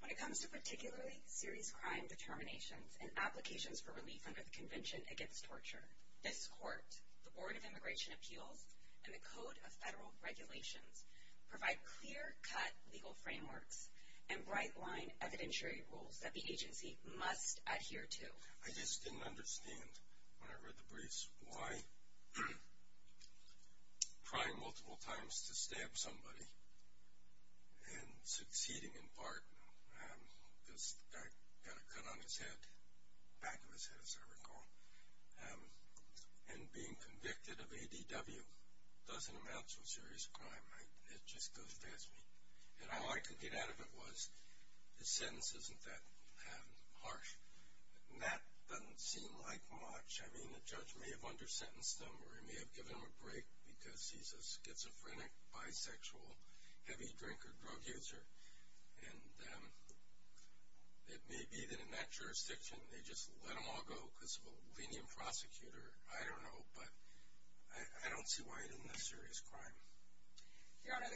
When it comes to particularly serious crime determinations and applications for relief under the Convention Against Torture, this Court, the Board of Immigration Appeals, and the Code of Federal Regulations provide clear-cut legal frameworks and bright-line evidentiary rules that the agency must adhere to.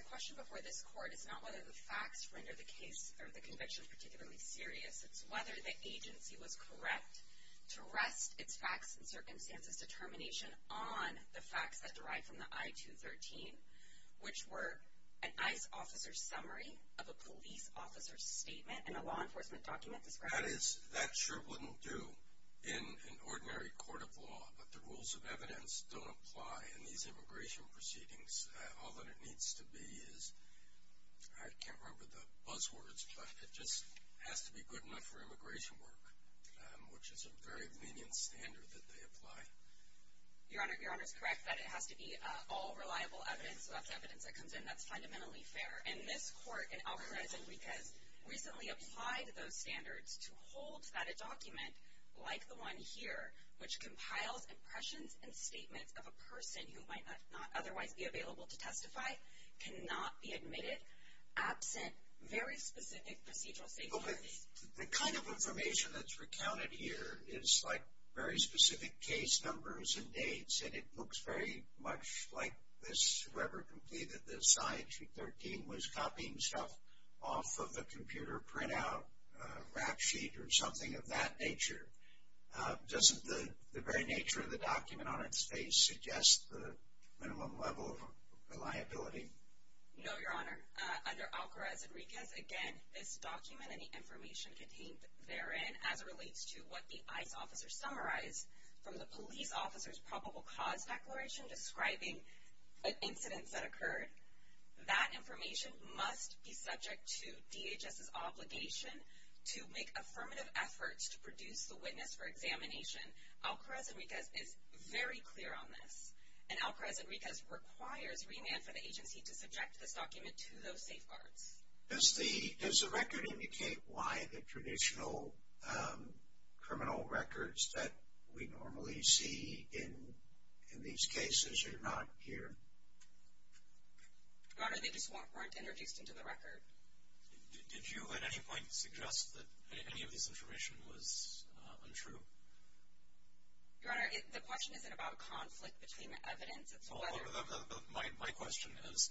The question before this Court is not whether the facts render the case, or the Convention particularly serious, it's whether the agency was correct to rest its facts and circumstances determination on the facts that derived from the I-213, which were an ICE officer's summary of a police officer's statement and a law enforcement document describing the incident. This Court has recently applied those standards to hold that a document, like the one here, which compiles impressions and statements of a person who might not otherwise be available to testify, cannot be admitted, absent very specific procedural safeguards. The kind of information that's recounted here is like very specific case numbers and dates, and it looks very much like whoever completed the I-213 was copying stuff off of a computer printout, a rap sheet, or something of that nature. Doesn't the very nature of the document on its face suggest the minimum level of reliability? No, Your Honor. Under Alcarez-Enriquez, again, this document and the information contained therein, as it relates to what the ICE officer summarized from the police officer's probable cause declaration describing incidents that occurred, that information must be subject to DHS's obligation to make affirmative efforts to produce the witness for examination. Alcarez-Enriquez is very clear on this. And Alcarez-Enriquez requires remand for the agency to subject this document to those safeguards. Does the record indicate why the traditional criminal records that we normally see in these cases are not here? Your Honor, they just weren't introduced into the record. Did you at any point suggest that any of this information was untrue? Your Honor, the question isn't about conflict between evidence, it's whether... My question is,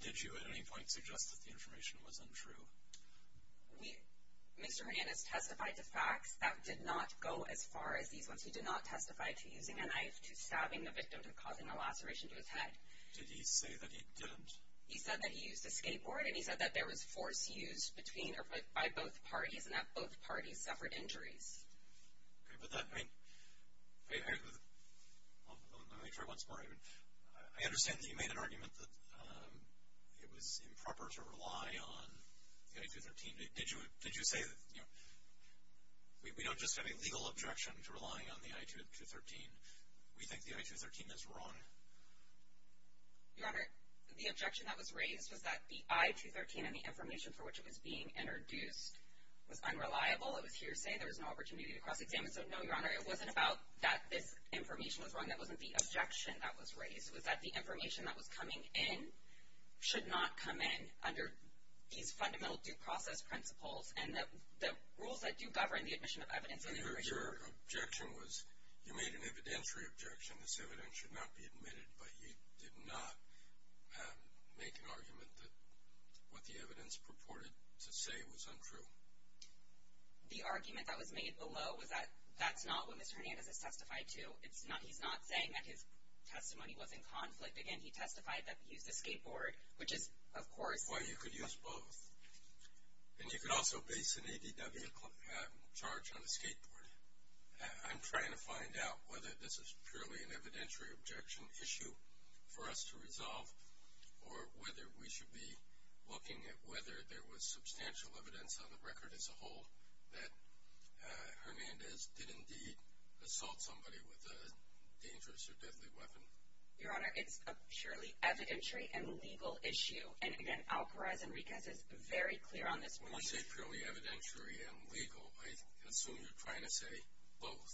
did you at any point suggest that the information was untrue? Mr. Hernandez testified to facts that did not go as far as these ones. He did not testify to using a knife, to stabbing the victim, to causing a laceration to his head. Did he say that he didn't? He said that he used a skateboard and he said that there was force used by both parties and that both parties suffered injuries. Okay, but that, I mean, let me try once more. I understand that you made an argument that it was improper to rely on the I-213. Did you say that, you know, we don't just have a legal objection to relying on the I-213. We think the I-213 is wrong. Your Honor, the objection that was raised was that the I-213 and the information for which it was being introduced was unreliable. It was hearsay. There was no opportunity to cross-examine. So no, Your Honor, it wasn't about that this information was wrong. That wasn't the objection that was raised. It was that the information that was coming in should not come in under these fundamental due process principles and that the rules that do govern the admission of evidence... Your objection was, you made an evidentiary objection. This evidence should not be admitted. But you did not make an argument that what the evidence purported to say was untrue. The argument that was made below was that that's not what Mr. Hernandez has testified to. It's not, he's not saying that his testimony was in conflict. Again, he testified that he used a skateboard, which is, of course... Well, you could use both. And you could also base an ADW charge on a skateboard. I'm trying to find out whether this is purely an evidentiary objection issue for us to resolve or whether we should be looking at whether there was substantial evidence on the record as a whole that Hernandez did indeed assault somebody with a dangerous or deadly weapon. Your Honor, it's a purely evidentiary and legal issue. And again, Alparez Enriquez is very clear on this point. When you say purely evidentiary and legal, I assume you're trying to say both,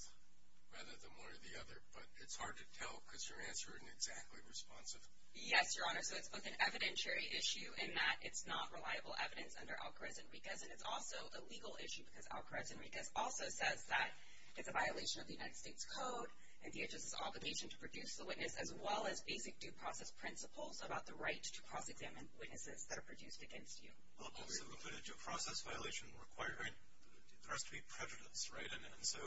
rather than one or the other. But it's hard to tell because your answer isn't exactly responsive. Yes, Your Honor. So it's both an evidentiary issue in that it's not reliable evidence under Alparez Enriquez. And it's also a legal issue because Alparez Enriquez also says that it's a violation of the United States Code and DHS's obligation to produce the witness, as well as basic due process principles about the right to cross-examine witnesses that are produced against you. Well, obviously, we put it to a process violation requiring there has to be prejudice, right? And so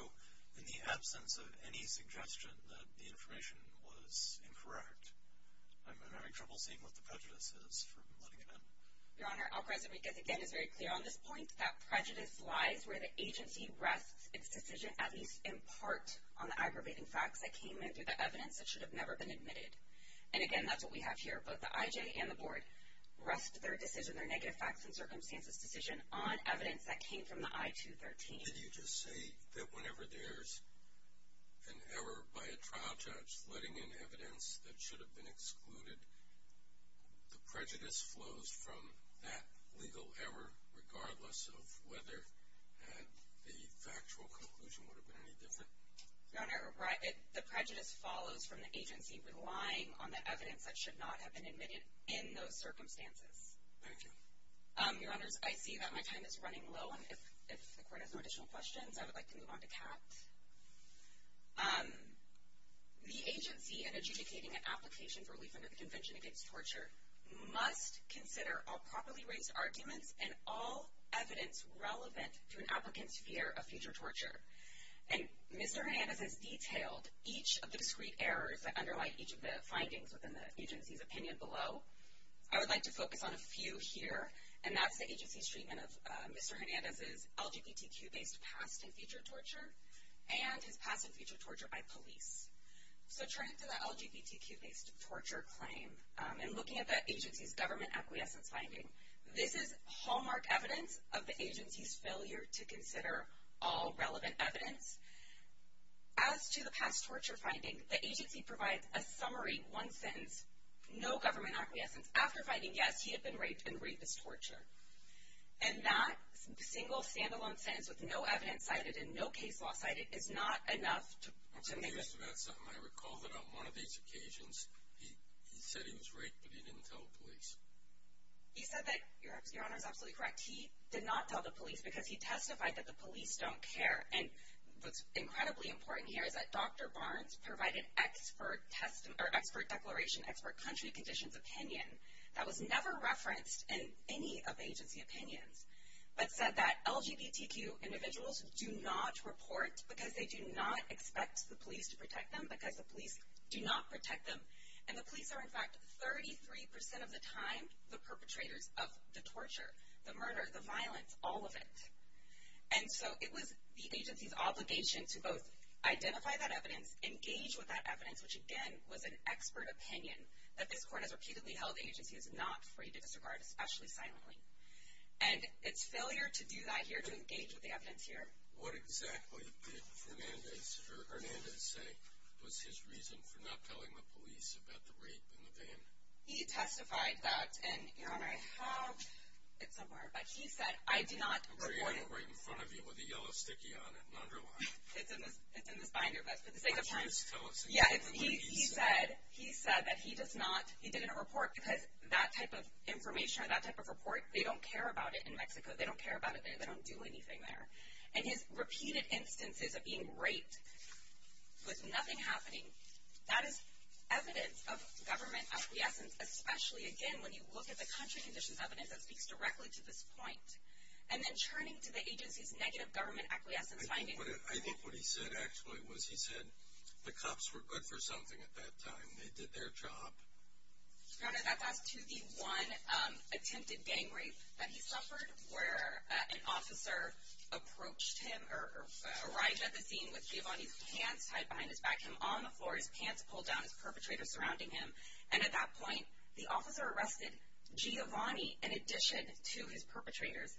in the absence of any suggestion that the information was incorrect, I'm having trouble seeing what the prejudice is from letting it in. Your Honor, Alparez Enriquez, again, is very clear on this point that prejudice lies where the agency rests its decision, at least in part, on the aggravating facts that came in through the evidence that should have never been admitted. And again, that's what we have here. Both the IJ and the board rest their decision, their negative facts and circumstances decision, on evidence that came from the I-213. Did you just say that whenever there's an error by a trial judge letting in evidence that should have been excluded, the prejudice flows from that legal error, regardless of whether the factual conclusion would have been any different? Your Honor, the prejudice follows from the agency relying on the evidence that should not have been admitted in those circumstances. Your Honors, I see that my time is running low, and if the Court has no additional questions, I would like to move on to Kat. The agency in adjudicating an application for relief under the Convention Against Torture must consider all properly raised arguments and all evidence relevant to an applicant's fear of future torture. And Mr. Hernandez has detailed each of the discrete errors that underlie each of the findings within the agency's opinion below. I would like to focus on a few here, and that's the agency's treatment of Mr. Hernandez's LGBTQ-based past and future torture and his past and future torture by police. So turning to the LGBTQ-based torture claim and looking at the agency's government acquiescence finding, this is hallmark evidence of the agency's failure to consider all relevant evidence. As to the past torture finding, the agency provides a summary one sentence, no government acquiescence, after finding, yes, he had been raped in rapist torture. And that single stand-alone sentence with no evidence cited and no case law cited is not enough to make the... Mr. Hernandez, I recall that on one of these occasions, he said he was raped, but he didn't tell the police. He said that, Your Honor, is absolutely correct. He did not tell the police because he testified that the police don't care. And what's incredibly important here is that Dr. Barnes provided expert declaration, expert country conditions opinion that was never referenced in any of agency opinions, but said that LGBTQ individuals do not report because they do not expect the police to protect them because the police do not protect them. And the police are, in fact, 33% of the time, the perpetrators of the torture, the murder, the violence, all of it. And so it was the agency's obligation to both identify that evidence, engage with that evidence, which, again, was an expert opinion that this court has repeatedly held the agency is not free to disregard, especially silently. And it's failure to do that here, to engage with the evidence here. What exactly did Hernandez say was his reason for not telling the police about the rape in the van? He testified that, and, Your Honor, I have it somewhere, but he said, I do not report it. I have it right in front of you with a yellow sticky on it, an underline. It's in the binder, but for the sake of time. Please tell us. Yeah, he said that he did not report because that type of information or that type of report, they don't care about it in Mexico. They don't care about it there. They don't do anything there. And his repeated instances of being raped with nothing happening, that is evidence of government acquiescence, especially, again, when you look at the country conditions evidence that speaks directly to this point. And then turning to the agency's negative government acquiescence finding. I think what he said, actually, was he said the cops were good for something at that time. They did their job. Your Honor, that was to the one attempted gang rape that he suffered where an officer approached him or arrived at the scene with Giovanni's pants tied behind his back, him on the floor, his pants pulled down, his perpetrator surrounding him. And at that point, the officer arrested Giovanni in addition to his perpetrators,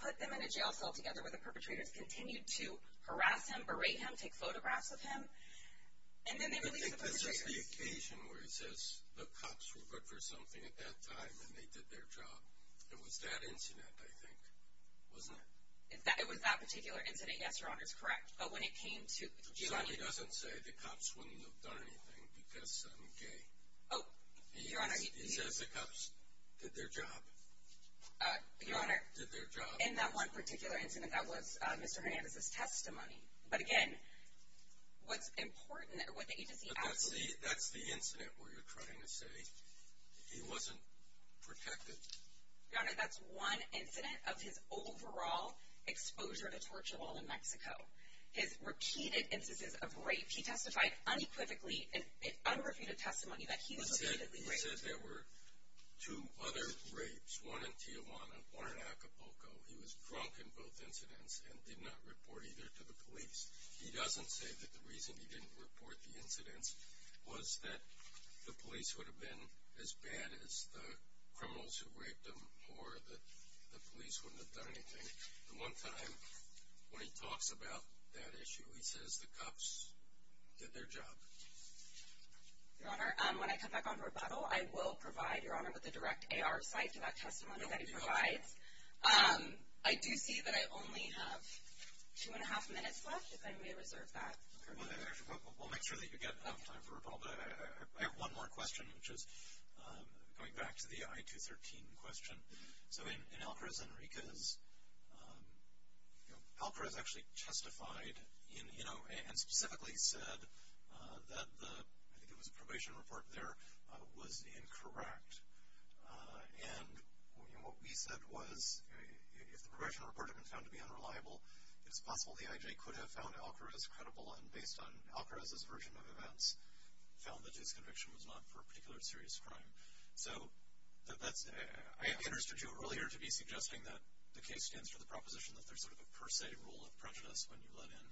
put them in a jail cell together where the perpetrators continued to harass him, berate him, take photographs of him. And then they released the perpetrators. I think this is the occasion where he says the cops were good for something at that time and they did their job. It was that incident, I think, wasn't it? It was that particular incident, yes, Your Honor, is correct. But when it came to Giovanni- Giovanni doesn't say the cops wouldn't have done anything because I'm gay. Oh, Your Honor- He says the cops did their job. Your Honor- Did their job. In that one particular incident, that was Mr. Hernandez's testimony. But again, what's important, what the agency- But that's the incident where you're trying to say he wasn't protected. Your Honor, that's one incident of his overall exposure to torture while in Mexico. His repeated instances of rape, he testified unequivocally in unrefuted testimony that he was repeatedly raped. He said there were two other rapes, one in Tijuana, one in Acapulco. He was drunk in both incidents and did not report either to the police. He doesn't say that the reason he didn't report the incidents was that the police would have been as bad as the criminals who raped him or that the police wouldn't have done anything. The one time when he talks about that issue, he says the cops did their job. Your Honor, when I come back on rebuttal, I will provide Your Honor with a direct AR site to that testimony that he provides. I do see that I only have two and a half minutes left, if I may reserve that. Okay, we'll make sure that you get enough time for rebuttal. But I have one more question, which is going back to the I-213 question. So in Alcara's Enriquez, Alcara's actually testified and specifically said that the, I think it was a probation report there, was incorrect. And what we said was, if the probation report had been found to be unreliable, it's possible the IJ could have found Alcara's credible and based on Alcara's version of events, found that his conviction was not for a particular serious crime. So I interested you earlier to be suggesting that the case stands for the proposition that there's sort of a per se rule of prejudice when you let in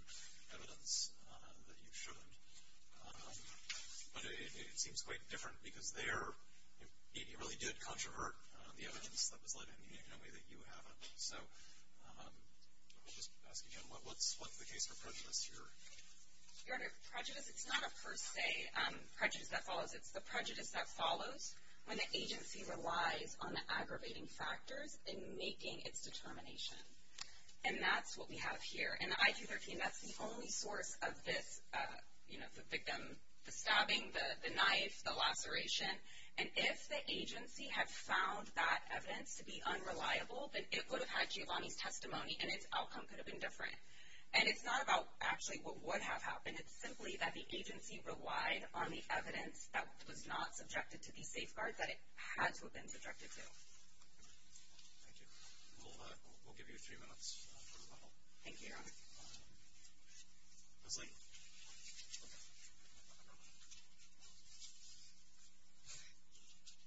evidence that you shouldn't. But it seems quite different because there, it really did controvert the evidence that was let in in a way that you haven't. So I'll just ask again, what's the case for prejudice here? Your Honor, prejudice, it's not a per se prejudice that follows. It's the prejudice that follows when the agency relies on the aggravating factors in making its determination. And that's what we have here. And the I-213, that's the only source of this, you know, the victim, the stabbing, the knife, the laceration. And if the agency had found that evidence to be unreliable, then it would have had Giovanni's testimony and its outcome could have been different. And it's not about actually what would have happened, it's simply that the agency relied on the evidence that was not subjected to the safeguard that it had to have been subjected to. Thank you. We'll give you three minutes. Thank you, Your Honor. Leslie.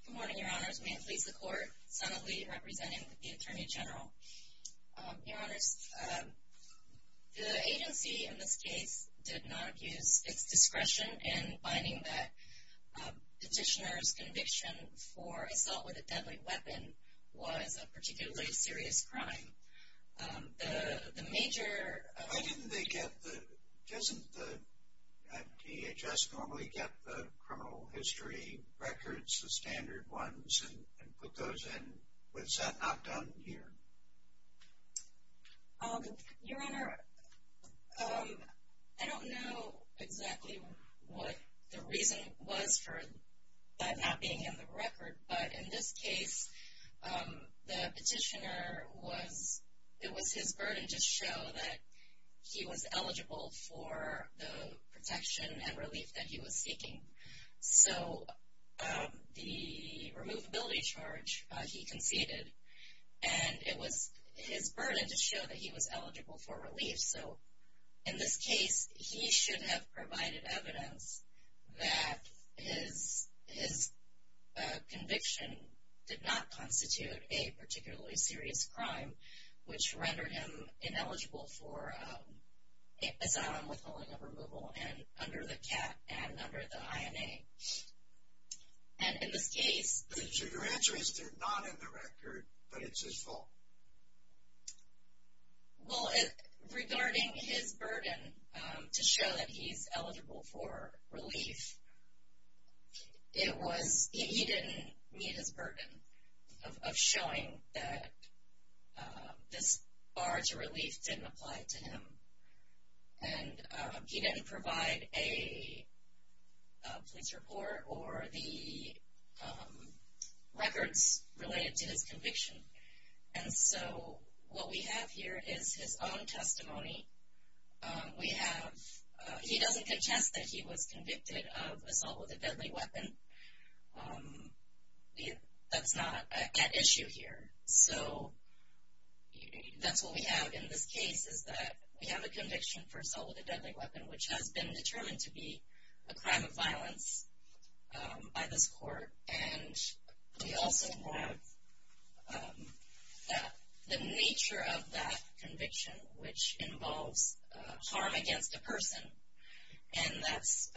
Good morning, Your Honors. May it please the Court, Son of Lee, representing the Attorney General. Your Honors, the agency in this case did not use its discretion in finding that particularly serious crime. The major... Why didn't they get the, doesn't the DHS normally get the criminal history records, the standard ones, and put those in? Was that not done here? Your Honor, I don't know exactly what the reason was for that not being in the record. But in this case, the petitioner was, it was his burden to show that he was eligible for the protection and relief that he was seeking. So, the removability charge, he conceded. And it was his burden to show that he was eligible for relief. So, in this case, he should have provided evidence that his conviction did not constitute a particularly serious crime, which rendered him ineligible for asylum, withholding of removal, and under the CAT and under the INA. And in this case... Your answer is they're not in the record, but it's his fault. Well, regarding his burden to show that he's eligible for relief, it was, he didn't meet his burden of showing that this bar to relief didn't apply to him. And he didn't provide a police report or the records related to his conviction. And so, what we have here is his own testimony. We have, he doesn't contest that he was convicted of assault with a deadly weapon. That's not at issue here. So, that's what we have in this case is that we have a conviction for assault with a deadly weapon, which has been determined to be a crime of violence by this court. And we also have the nature of that conviction, which involves harm against a person. And that's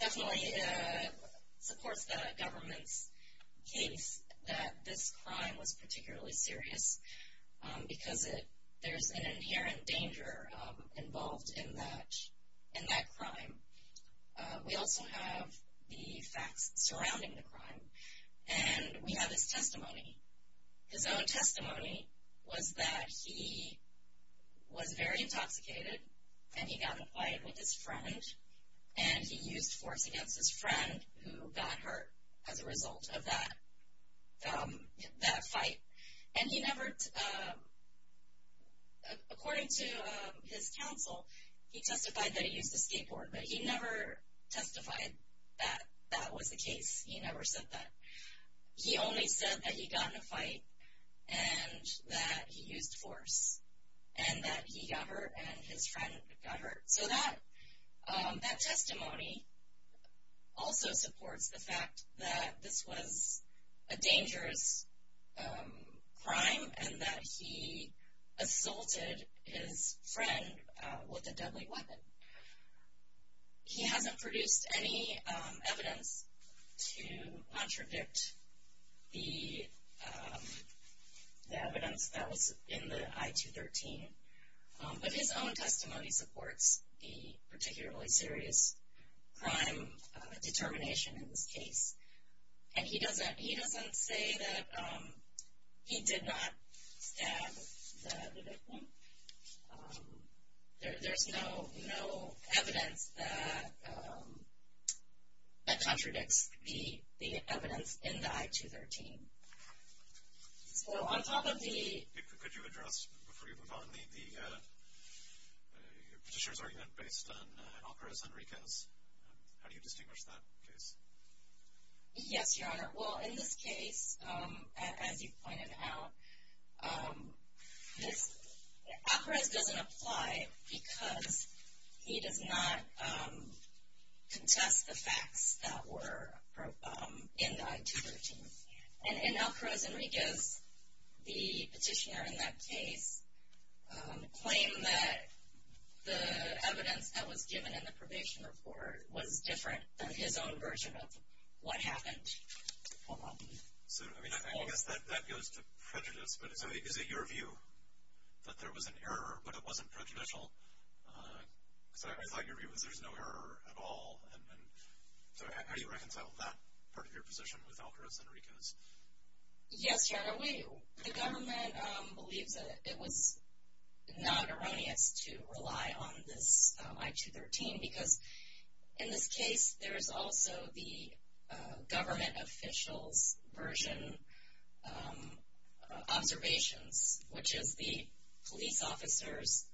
definitely supports the government's case that this crime was particularly serious because there's an inherent danger involved in that crime. We also have the facts surrounding the crime. And we have his testimony. His own testimony was that he was very intoxicated and he got in a fight with his friend. And he used force against his friend who got hurt as a result of that fight. And he never, according to his counsel, he testified that he used a skateboard. He never testified that that was the case. He never said that. He only said that he got in a fight and that he used force. And that he got hurt and his friend got hurt. So, that testimony also supports the fact that this was a dangerous crime and that he assaulted his friend with a deadly weapon. He hasn't produced any evidence to contradict the evidence that was in the I-213. But his own testimony supports the particularly serious crime determination in this case. And he doesn't say that he did not stab the victim. There's no evidence that contradicts the evidence in the I-213. So, on top of the. Could you address, before you move on, the petitioner's argument based on Alvarez-Enriquez? How do you distinguish that case? Yes, Your Honor. Well, in this case, as you pointed out, Alvarez doesn't apply because he does not contest the facts that were in the I-213. And Alvarez-Enriquez, the petitioner in that case, claimed that the evidence that was given in the probation report was different than his own version of what happened. So, I mean, I guess that goes to prejudice. But is it your view that there was an error but it wasn't prejudicial? Because I thought your view was there's no error at all. And so, how do you reconcile that part of your position with Alvarez-Enriquez? Yes, Your Honor, we. The government believes that it was not erroneous to rely on this I-213 because in this case, there's also the government official's version observations, which is the police officer's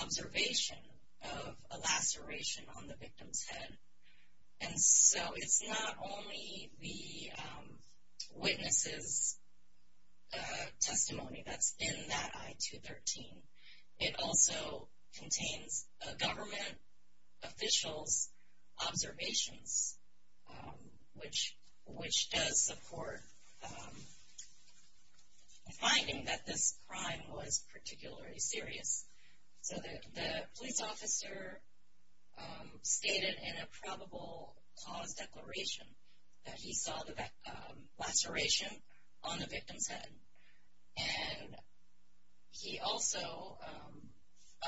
observation of a laceration on the victim's head. And so, it's not only the witness's testimony that's in that I-213. It also contains a government official's observations, which does support the finding that this crime was particularly serious. So, the police officer stated in a probable cause declaration that he saw the laceration on the victim's head. And he also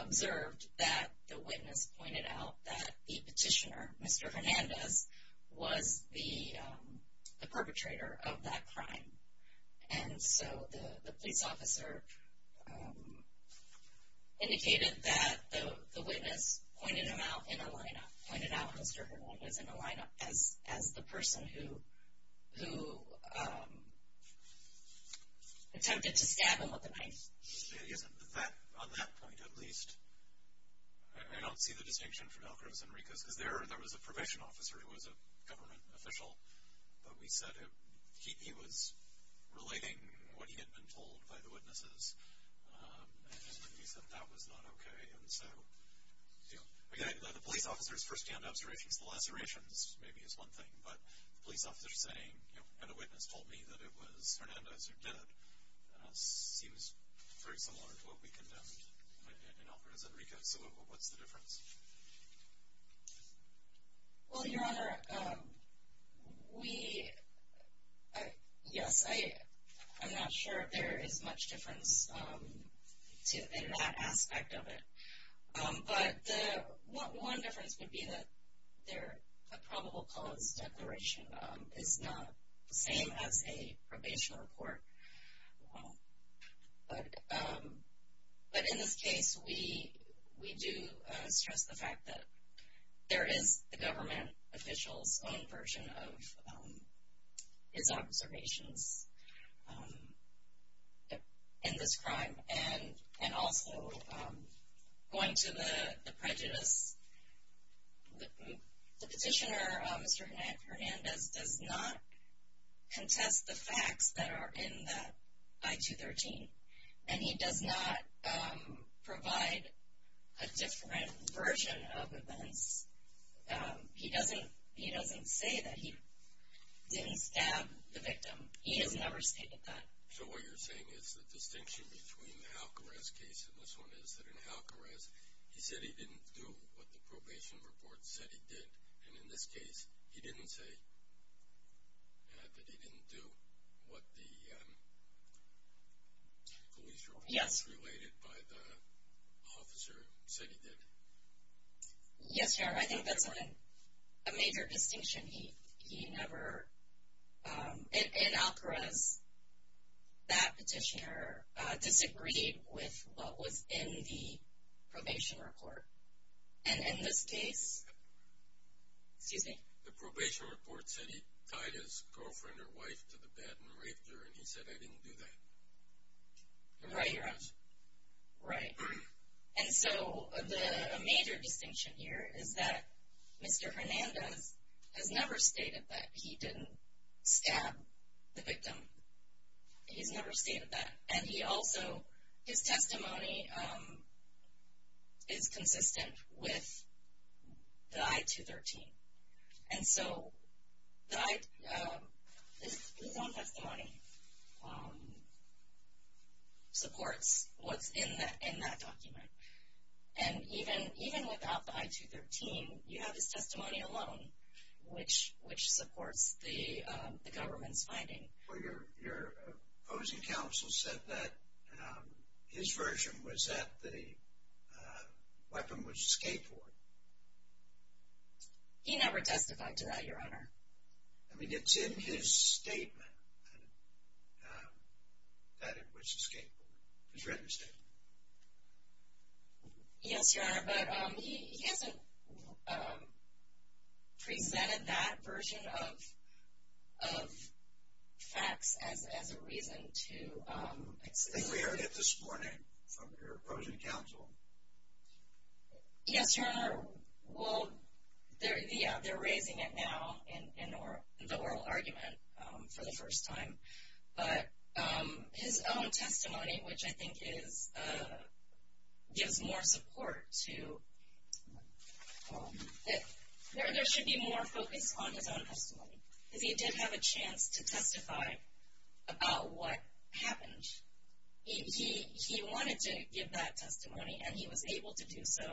observed that the witness pointed out that the petitioner, Mr. Hernandez, was the perpetrator of that crime. And so, the police officer indicated that the witness pointed him out in a lineup, pointed out Mr. Hernandez in a lineup as the person who attempted to stab him with a knife. On that point, at least, I don't see the distinction from Alvarez-Enriquez because there was a probation officer who was a government official. But we said he was relating what he had been told by the witnesses. And he said that was not okay. And so, the police officer's first-hand observations, the lacerations maybe is one thing. But the police officer saying, and a witness told me that it was Hernandez who did it, seems very similar to what we condemned in Alvarez-Enriquez. So, what's the difference? Well, Your Honor, we, yes, I'm not sure there is much difference in that aspect of it. But the one difference would be that the probable cause declaration is not the same as a probation report. Well, but in this case, we do stress the fact that there is the government official's own version of his observations in this crime. And also, going to the prejudice, the petitioner, Mr. Hernandez, does not contest the facts that are in that I-213. And he does not provide a different version of events. He doesn't say that he didn't stab the victim. He has never stated that. So, what you're saying is the distinction between the Alvarez case and this one is that in Alvarez, he said he didn't do what the probation report said he did. And in this case, he didn't say that he didn't do what the police report. Yes. Related by the officer said he did. Yes, Your Honor, I think that's a major distinction. He never, in Alvarez, that petitioner disagreed with what was in the probation report. And in this case, excuse me. The probation report said he tied his girlfriend or wife to the bed and raped her. And he said, I didn't do that. Right, Your Honor. Right. And so, a major distinction here is that Mr. Hernandez has never stated that he didn't stab the victim. He's never stated that. And he also, his testimony is consistent with the I-213. And so, his own testimony supports what's in that document. And even without the I-213, you have his testimony alone, which supports the government's finding. Well, your opposing counsel said that his version was that the weapon was a skateboard. He never testified to that, Your Honor. I mean, it's in his statement that it was a skateboard, his written statement. Yes, Your Honor. But he hasn't presented that version of facts as a reason to excuse me. We heard it this morning from your opposing counsel. Yes, Your Honor. Well, yeah, they're raising it now in the oral argument for the first time. But his own testimony, which I think is, gives more support to, there should be more focus on his own testimony. Because he did have a chance to testify about what happened. He wanted to give that testimony, and he was able to do so.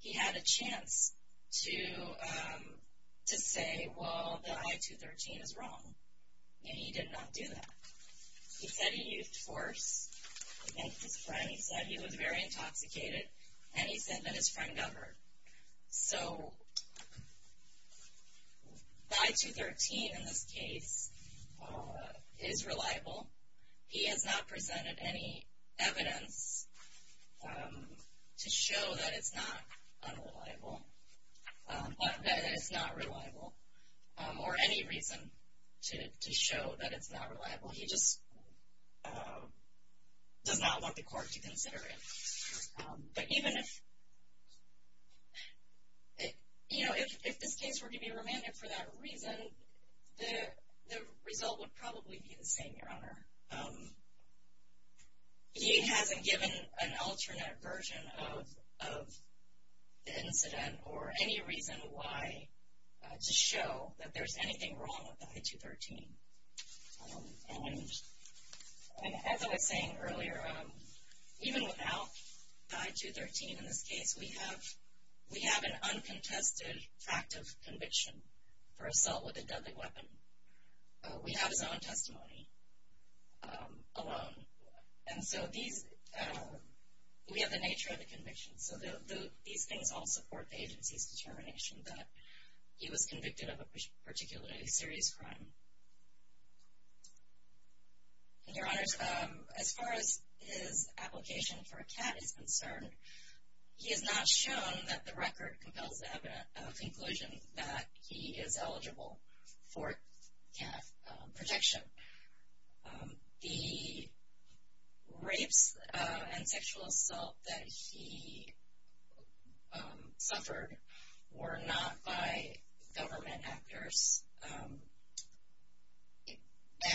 He had a chance to say, well, the I-213 is wrong. And he did not do that. He said he used force against his friend. He said he was very intoxicated. And he said that his friend got hurt. So I-213, in this case, is reliable. He has not presented any evidence to show that it's not unreliable, that it's not reliable, or any reason to show that it's not reliable. He just does not want the court to consider it. But even if this case were to be remanded for that reason, the result would probably be the same, Your Honor. He hasn't given an alternate version of the incident, or any reason why to show that there's anything wrong with the I-213. And as I was saying earlier, even without the I-213 in this case, we have an uncontested fact of conviction for assault with a deadly weapon. We have his own testimony. Alone. And so these, we have the nature of the conviction. So these things all support the agency's determination that he was convicted of a particularly serious crime. And Your Honors, as far as his application for a CAT is concerned, he has not shown that the record compels the conclusion that he is eligible for CAT protection. The rapes and sexual assault that he suffered were not by government actors.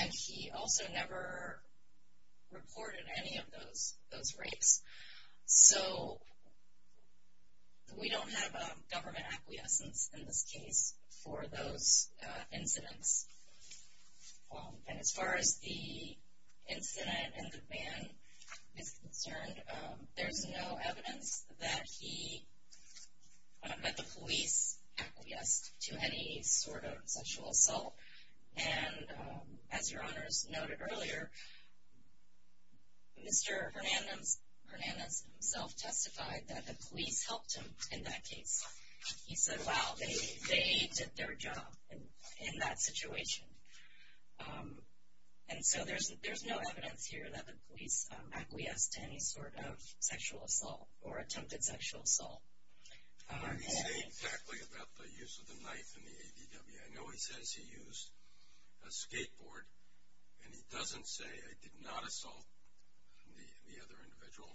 And he also never reported any of those rapes. So we don't have a government acquiescence in this case for those incidents. And as far as the incident and the man is concerned, there's no evidence that he, that the police acquiesced to any sort of sexual assault. And as Your Honors noted earlier, Mr. Hernandez himself testified that the police helped him in that case. He said, wow, they did their job in that situation. And so there's no evidence here that the police acquiesced to any sort of sexual assault or attempted sexual assault. And he said exactly about the use of the knife in the ADW. I know he says he used a skateboard. And he doesn't say, I did not assault the other individual.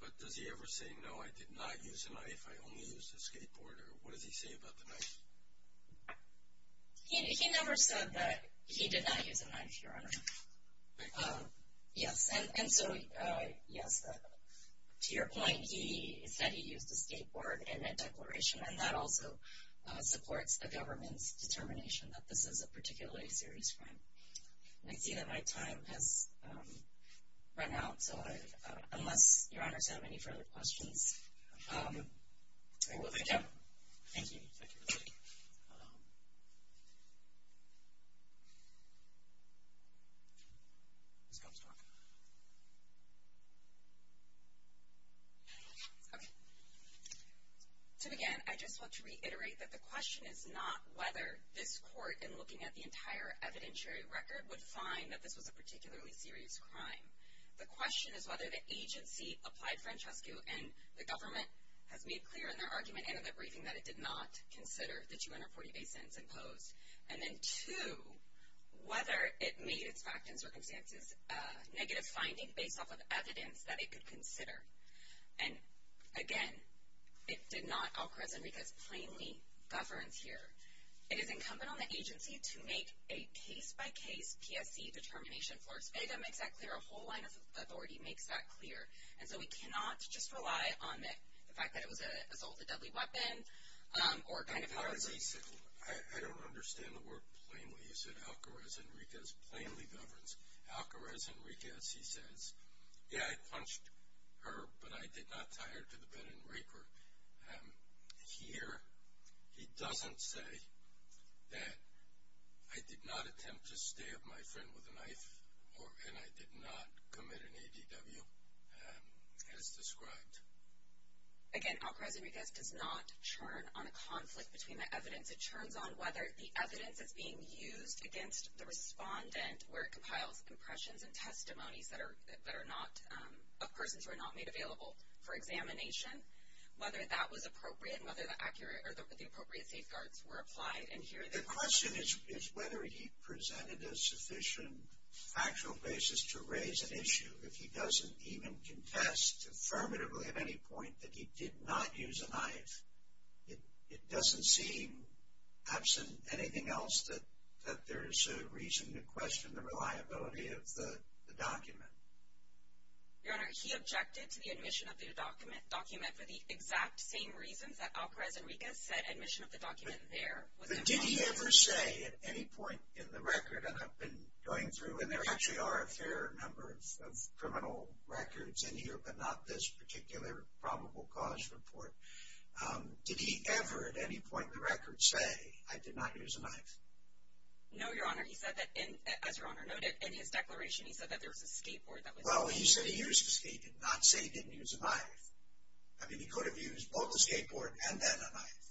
But does he ever say, no, I did not use a knife. I only used a skateboard. Or what does he say about the knife? He never said that he did not use a knife, Your Honor. Yes, and so yes, to your point, he said he used a skateboard in a declaration. And that also supports the government's determination that this is a particularly serious crime. And I see that my time has run out. So unless Your Honors have any further questions, I will thank you. Thank you. Thank you, everybody. Ms. Comstock. Okay, so again, I just want to reiterate that the question is not whether this court, in looking at the entire evidentiary record, would find that this was a particularly serious crime. The question is whether the agency applied Francesco and the government has made clear in their argument and in their briefing that it did not consider the 248 sentence imposed. And then two, whether it made its fact and circumstances negative finding based off of evidence that it could consider. And again, it did not occur as Enriquez plainly governs here. It is incumbent on the agency to make a case-by-case PSC determination. Flores Vega makes that clear. A whole line of authority makes that clear. And so we cannot just rely on the fact that it was an assault, a deadly weapon, or a kind of harrassment. I don't understand the word plainly. You said Alcarez-Enriquez plainly governs. Alcarez-Enriquez, he says, yeah, I punched her, but I did not tie her to the bed and rape her. Here, he doesn't say that I did not attempt to stab my friend with a knife, and I did not commit an ADW. As described. Again, Alcarez-Enriquez does not churn on a conflict between the evidence. It churns on whether the evidence is being used against the respondent where it compiles impressions and testimonies that are not, of persons who are not made available for examination, whether that was appropriate, and whether the appropriate safeguards were applied. And here, the question is whether he presented a sufficient factual basis to raise an issue. If he doesn't even contest affirmatively at any point that he did not use a knife, it doesn't seem, absent anything else, that there is a reason to question the reliability of the document. Your Honor, he objected to the admission of the document for the exact same reasons that Alcarez-Enriquez said admission of the document there. Did he ever say at any point in the record, and I've been going through, and there actually are a fair number of criminal records in here, but not this particular probable cause report. Did he ever at any point in the record say, I did not use a knife? No, Your Honor. He said that, as Your Honor noted in his declaration, he said that there was a skateboard that was... Well, he said he used a skateboard, not say he didn't use a knife. I mean, he could have used both a skateboard and then a knife.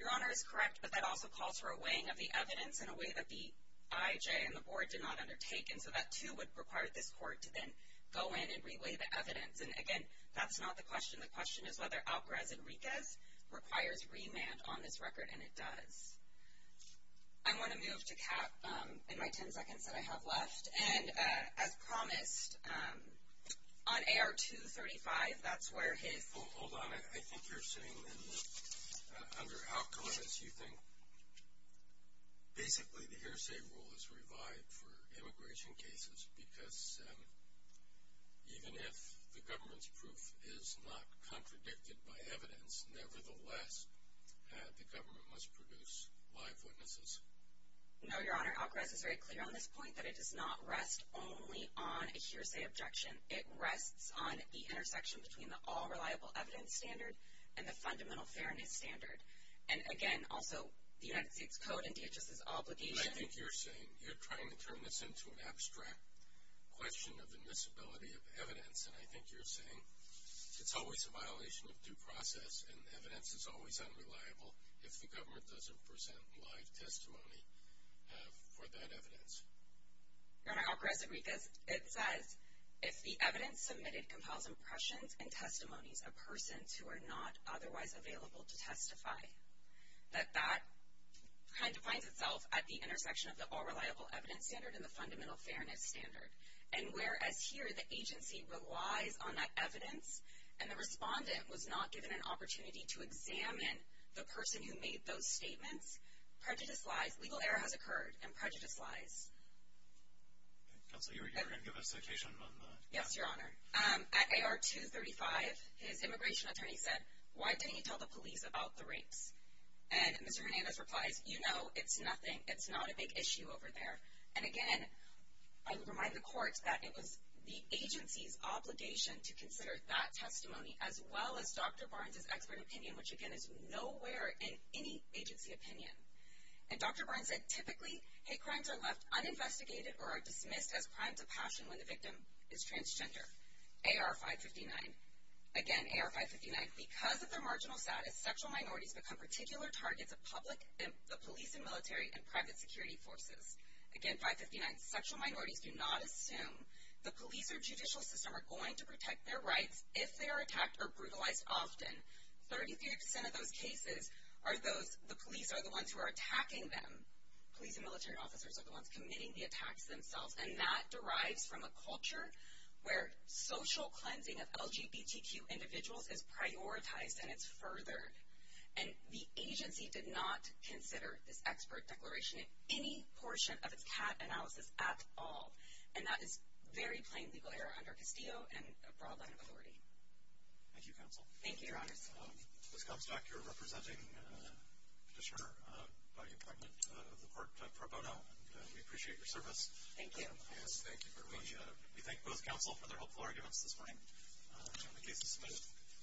Your Honor is correct, but that also calls for a weighing of the evidence in a way that the IJ and the board did not undertake, and so that too would require this court to then go in and re-weigh the evidence. And again, that's not the question. The question is whether Alcarez-Enriquez requires remand on this record, and it does. I want to move to Kat in my 10 seconds that I have left. And as promised, on AR 235, that's where his... Under Alcarez, you think, basically, the hearsay rule is revived for immigration cases, because even if the government's proof is not contradicted by evidence, nevertheless, the government must produce live witnesses. No, Your Honor. Alcarez is very clear on this point that it does not rest only on a hearsay objection. It rests on the intersection between the all-reliable evidence standard and the fundamental fairness standard. And again, also, the United States Code and DHS's obligation... I think you're saying... You're trying to turn this into an abstract question of admissibility of evidence, and I think you're saying it's always a violation of due process, and the evidence is always unreliable if the government doesn't present live testimony for that evidence. Your Honor, Alcarez-Enriquez, it says, if the evidence submitted compiles impressions and testimonies of persons who are not otherwise available to testify, that that kind of finds itself at the intersection of the all-reliable evidence standard and the fundamental fairness standard. And whereas here, the agency relies on that evidence, and the respondent was not given an opportunity to examine the person who made those statements, prejudice lies. Legal error has occurred, and prejudice lies. Counsel, you were going to give a citation on the... Yes, Your Honor. At AR-235, his immigration attorney said, why didn't you tell the police about the rapes? And Mr. Hernandez replies, you know, it's nothing. It's not a big issue over there. And again, I would remind the court that it was the agency's obligation to consider that testimony as well as Dr. Barnes's expert opinion, which, again, is nowhere in any agency opinion. And Dr. Barnes said, typically, hate crimes are left uninvestigated or are dismissed as crimes of passion when the victim is transgender. AR-559, again, AR-559, because of their marginal status, sexual minorities become particular targets of public, the police and military, and private security forces. Again, 559, sexual minorities do not assume. The police or judicial system are going to protect their rights if they are attacked or brutalized often. 33% of those cases are those, the police are the ones who are attacking them. Police and military officers are the ones committing the attacks themselves. And that derives from a culture where social cleansing of LGBTQ individuals is prioritized and it's furthered. And the agency did not consider this expert declaration in any portion of its CAT analysis at all. And that is very plain legal error under Castillo and a broad line of authority. Thank you, counsel. Thank you, Your Honors. Ms. Comstock, you're representing a petitioner by appointment of the court pro bono, and we appreciate your service. Thank you. Yes, thank you very much. We thank both counsel for their helpful arguments this morning on the case of Smith.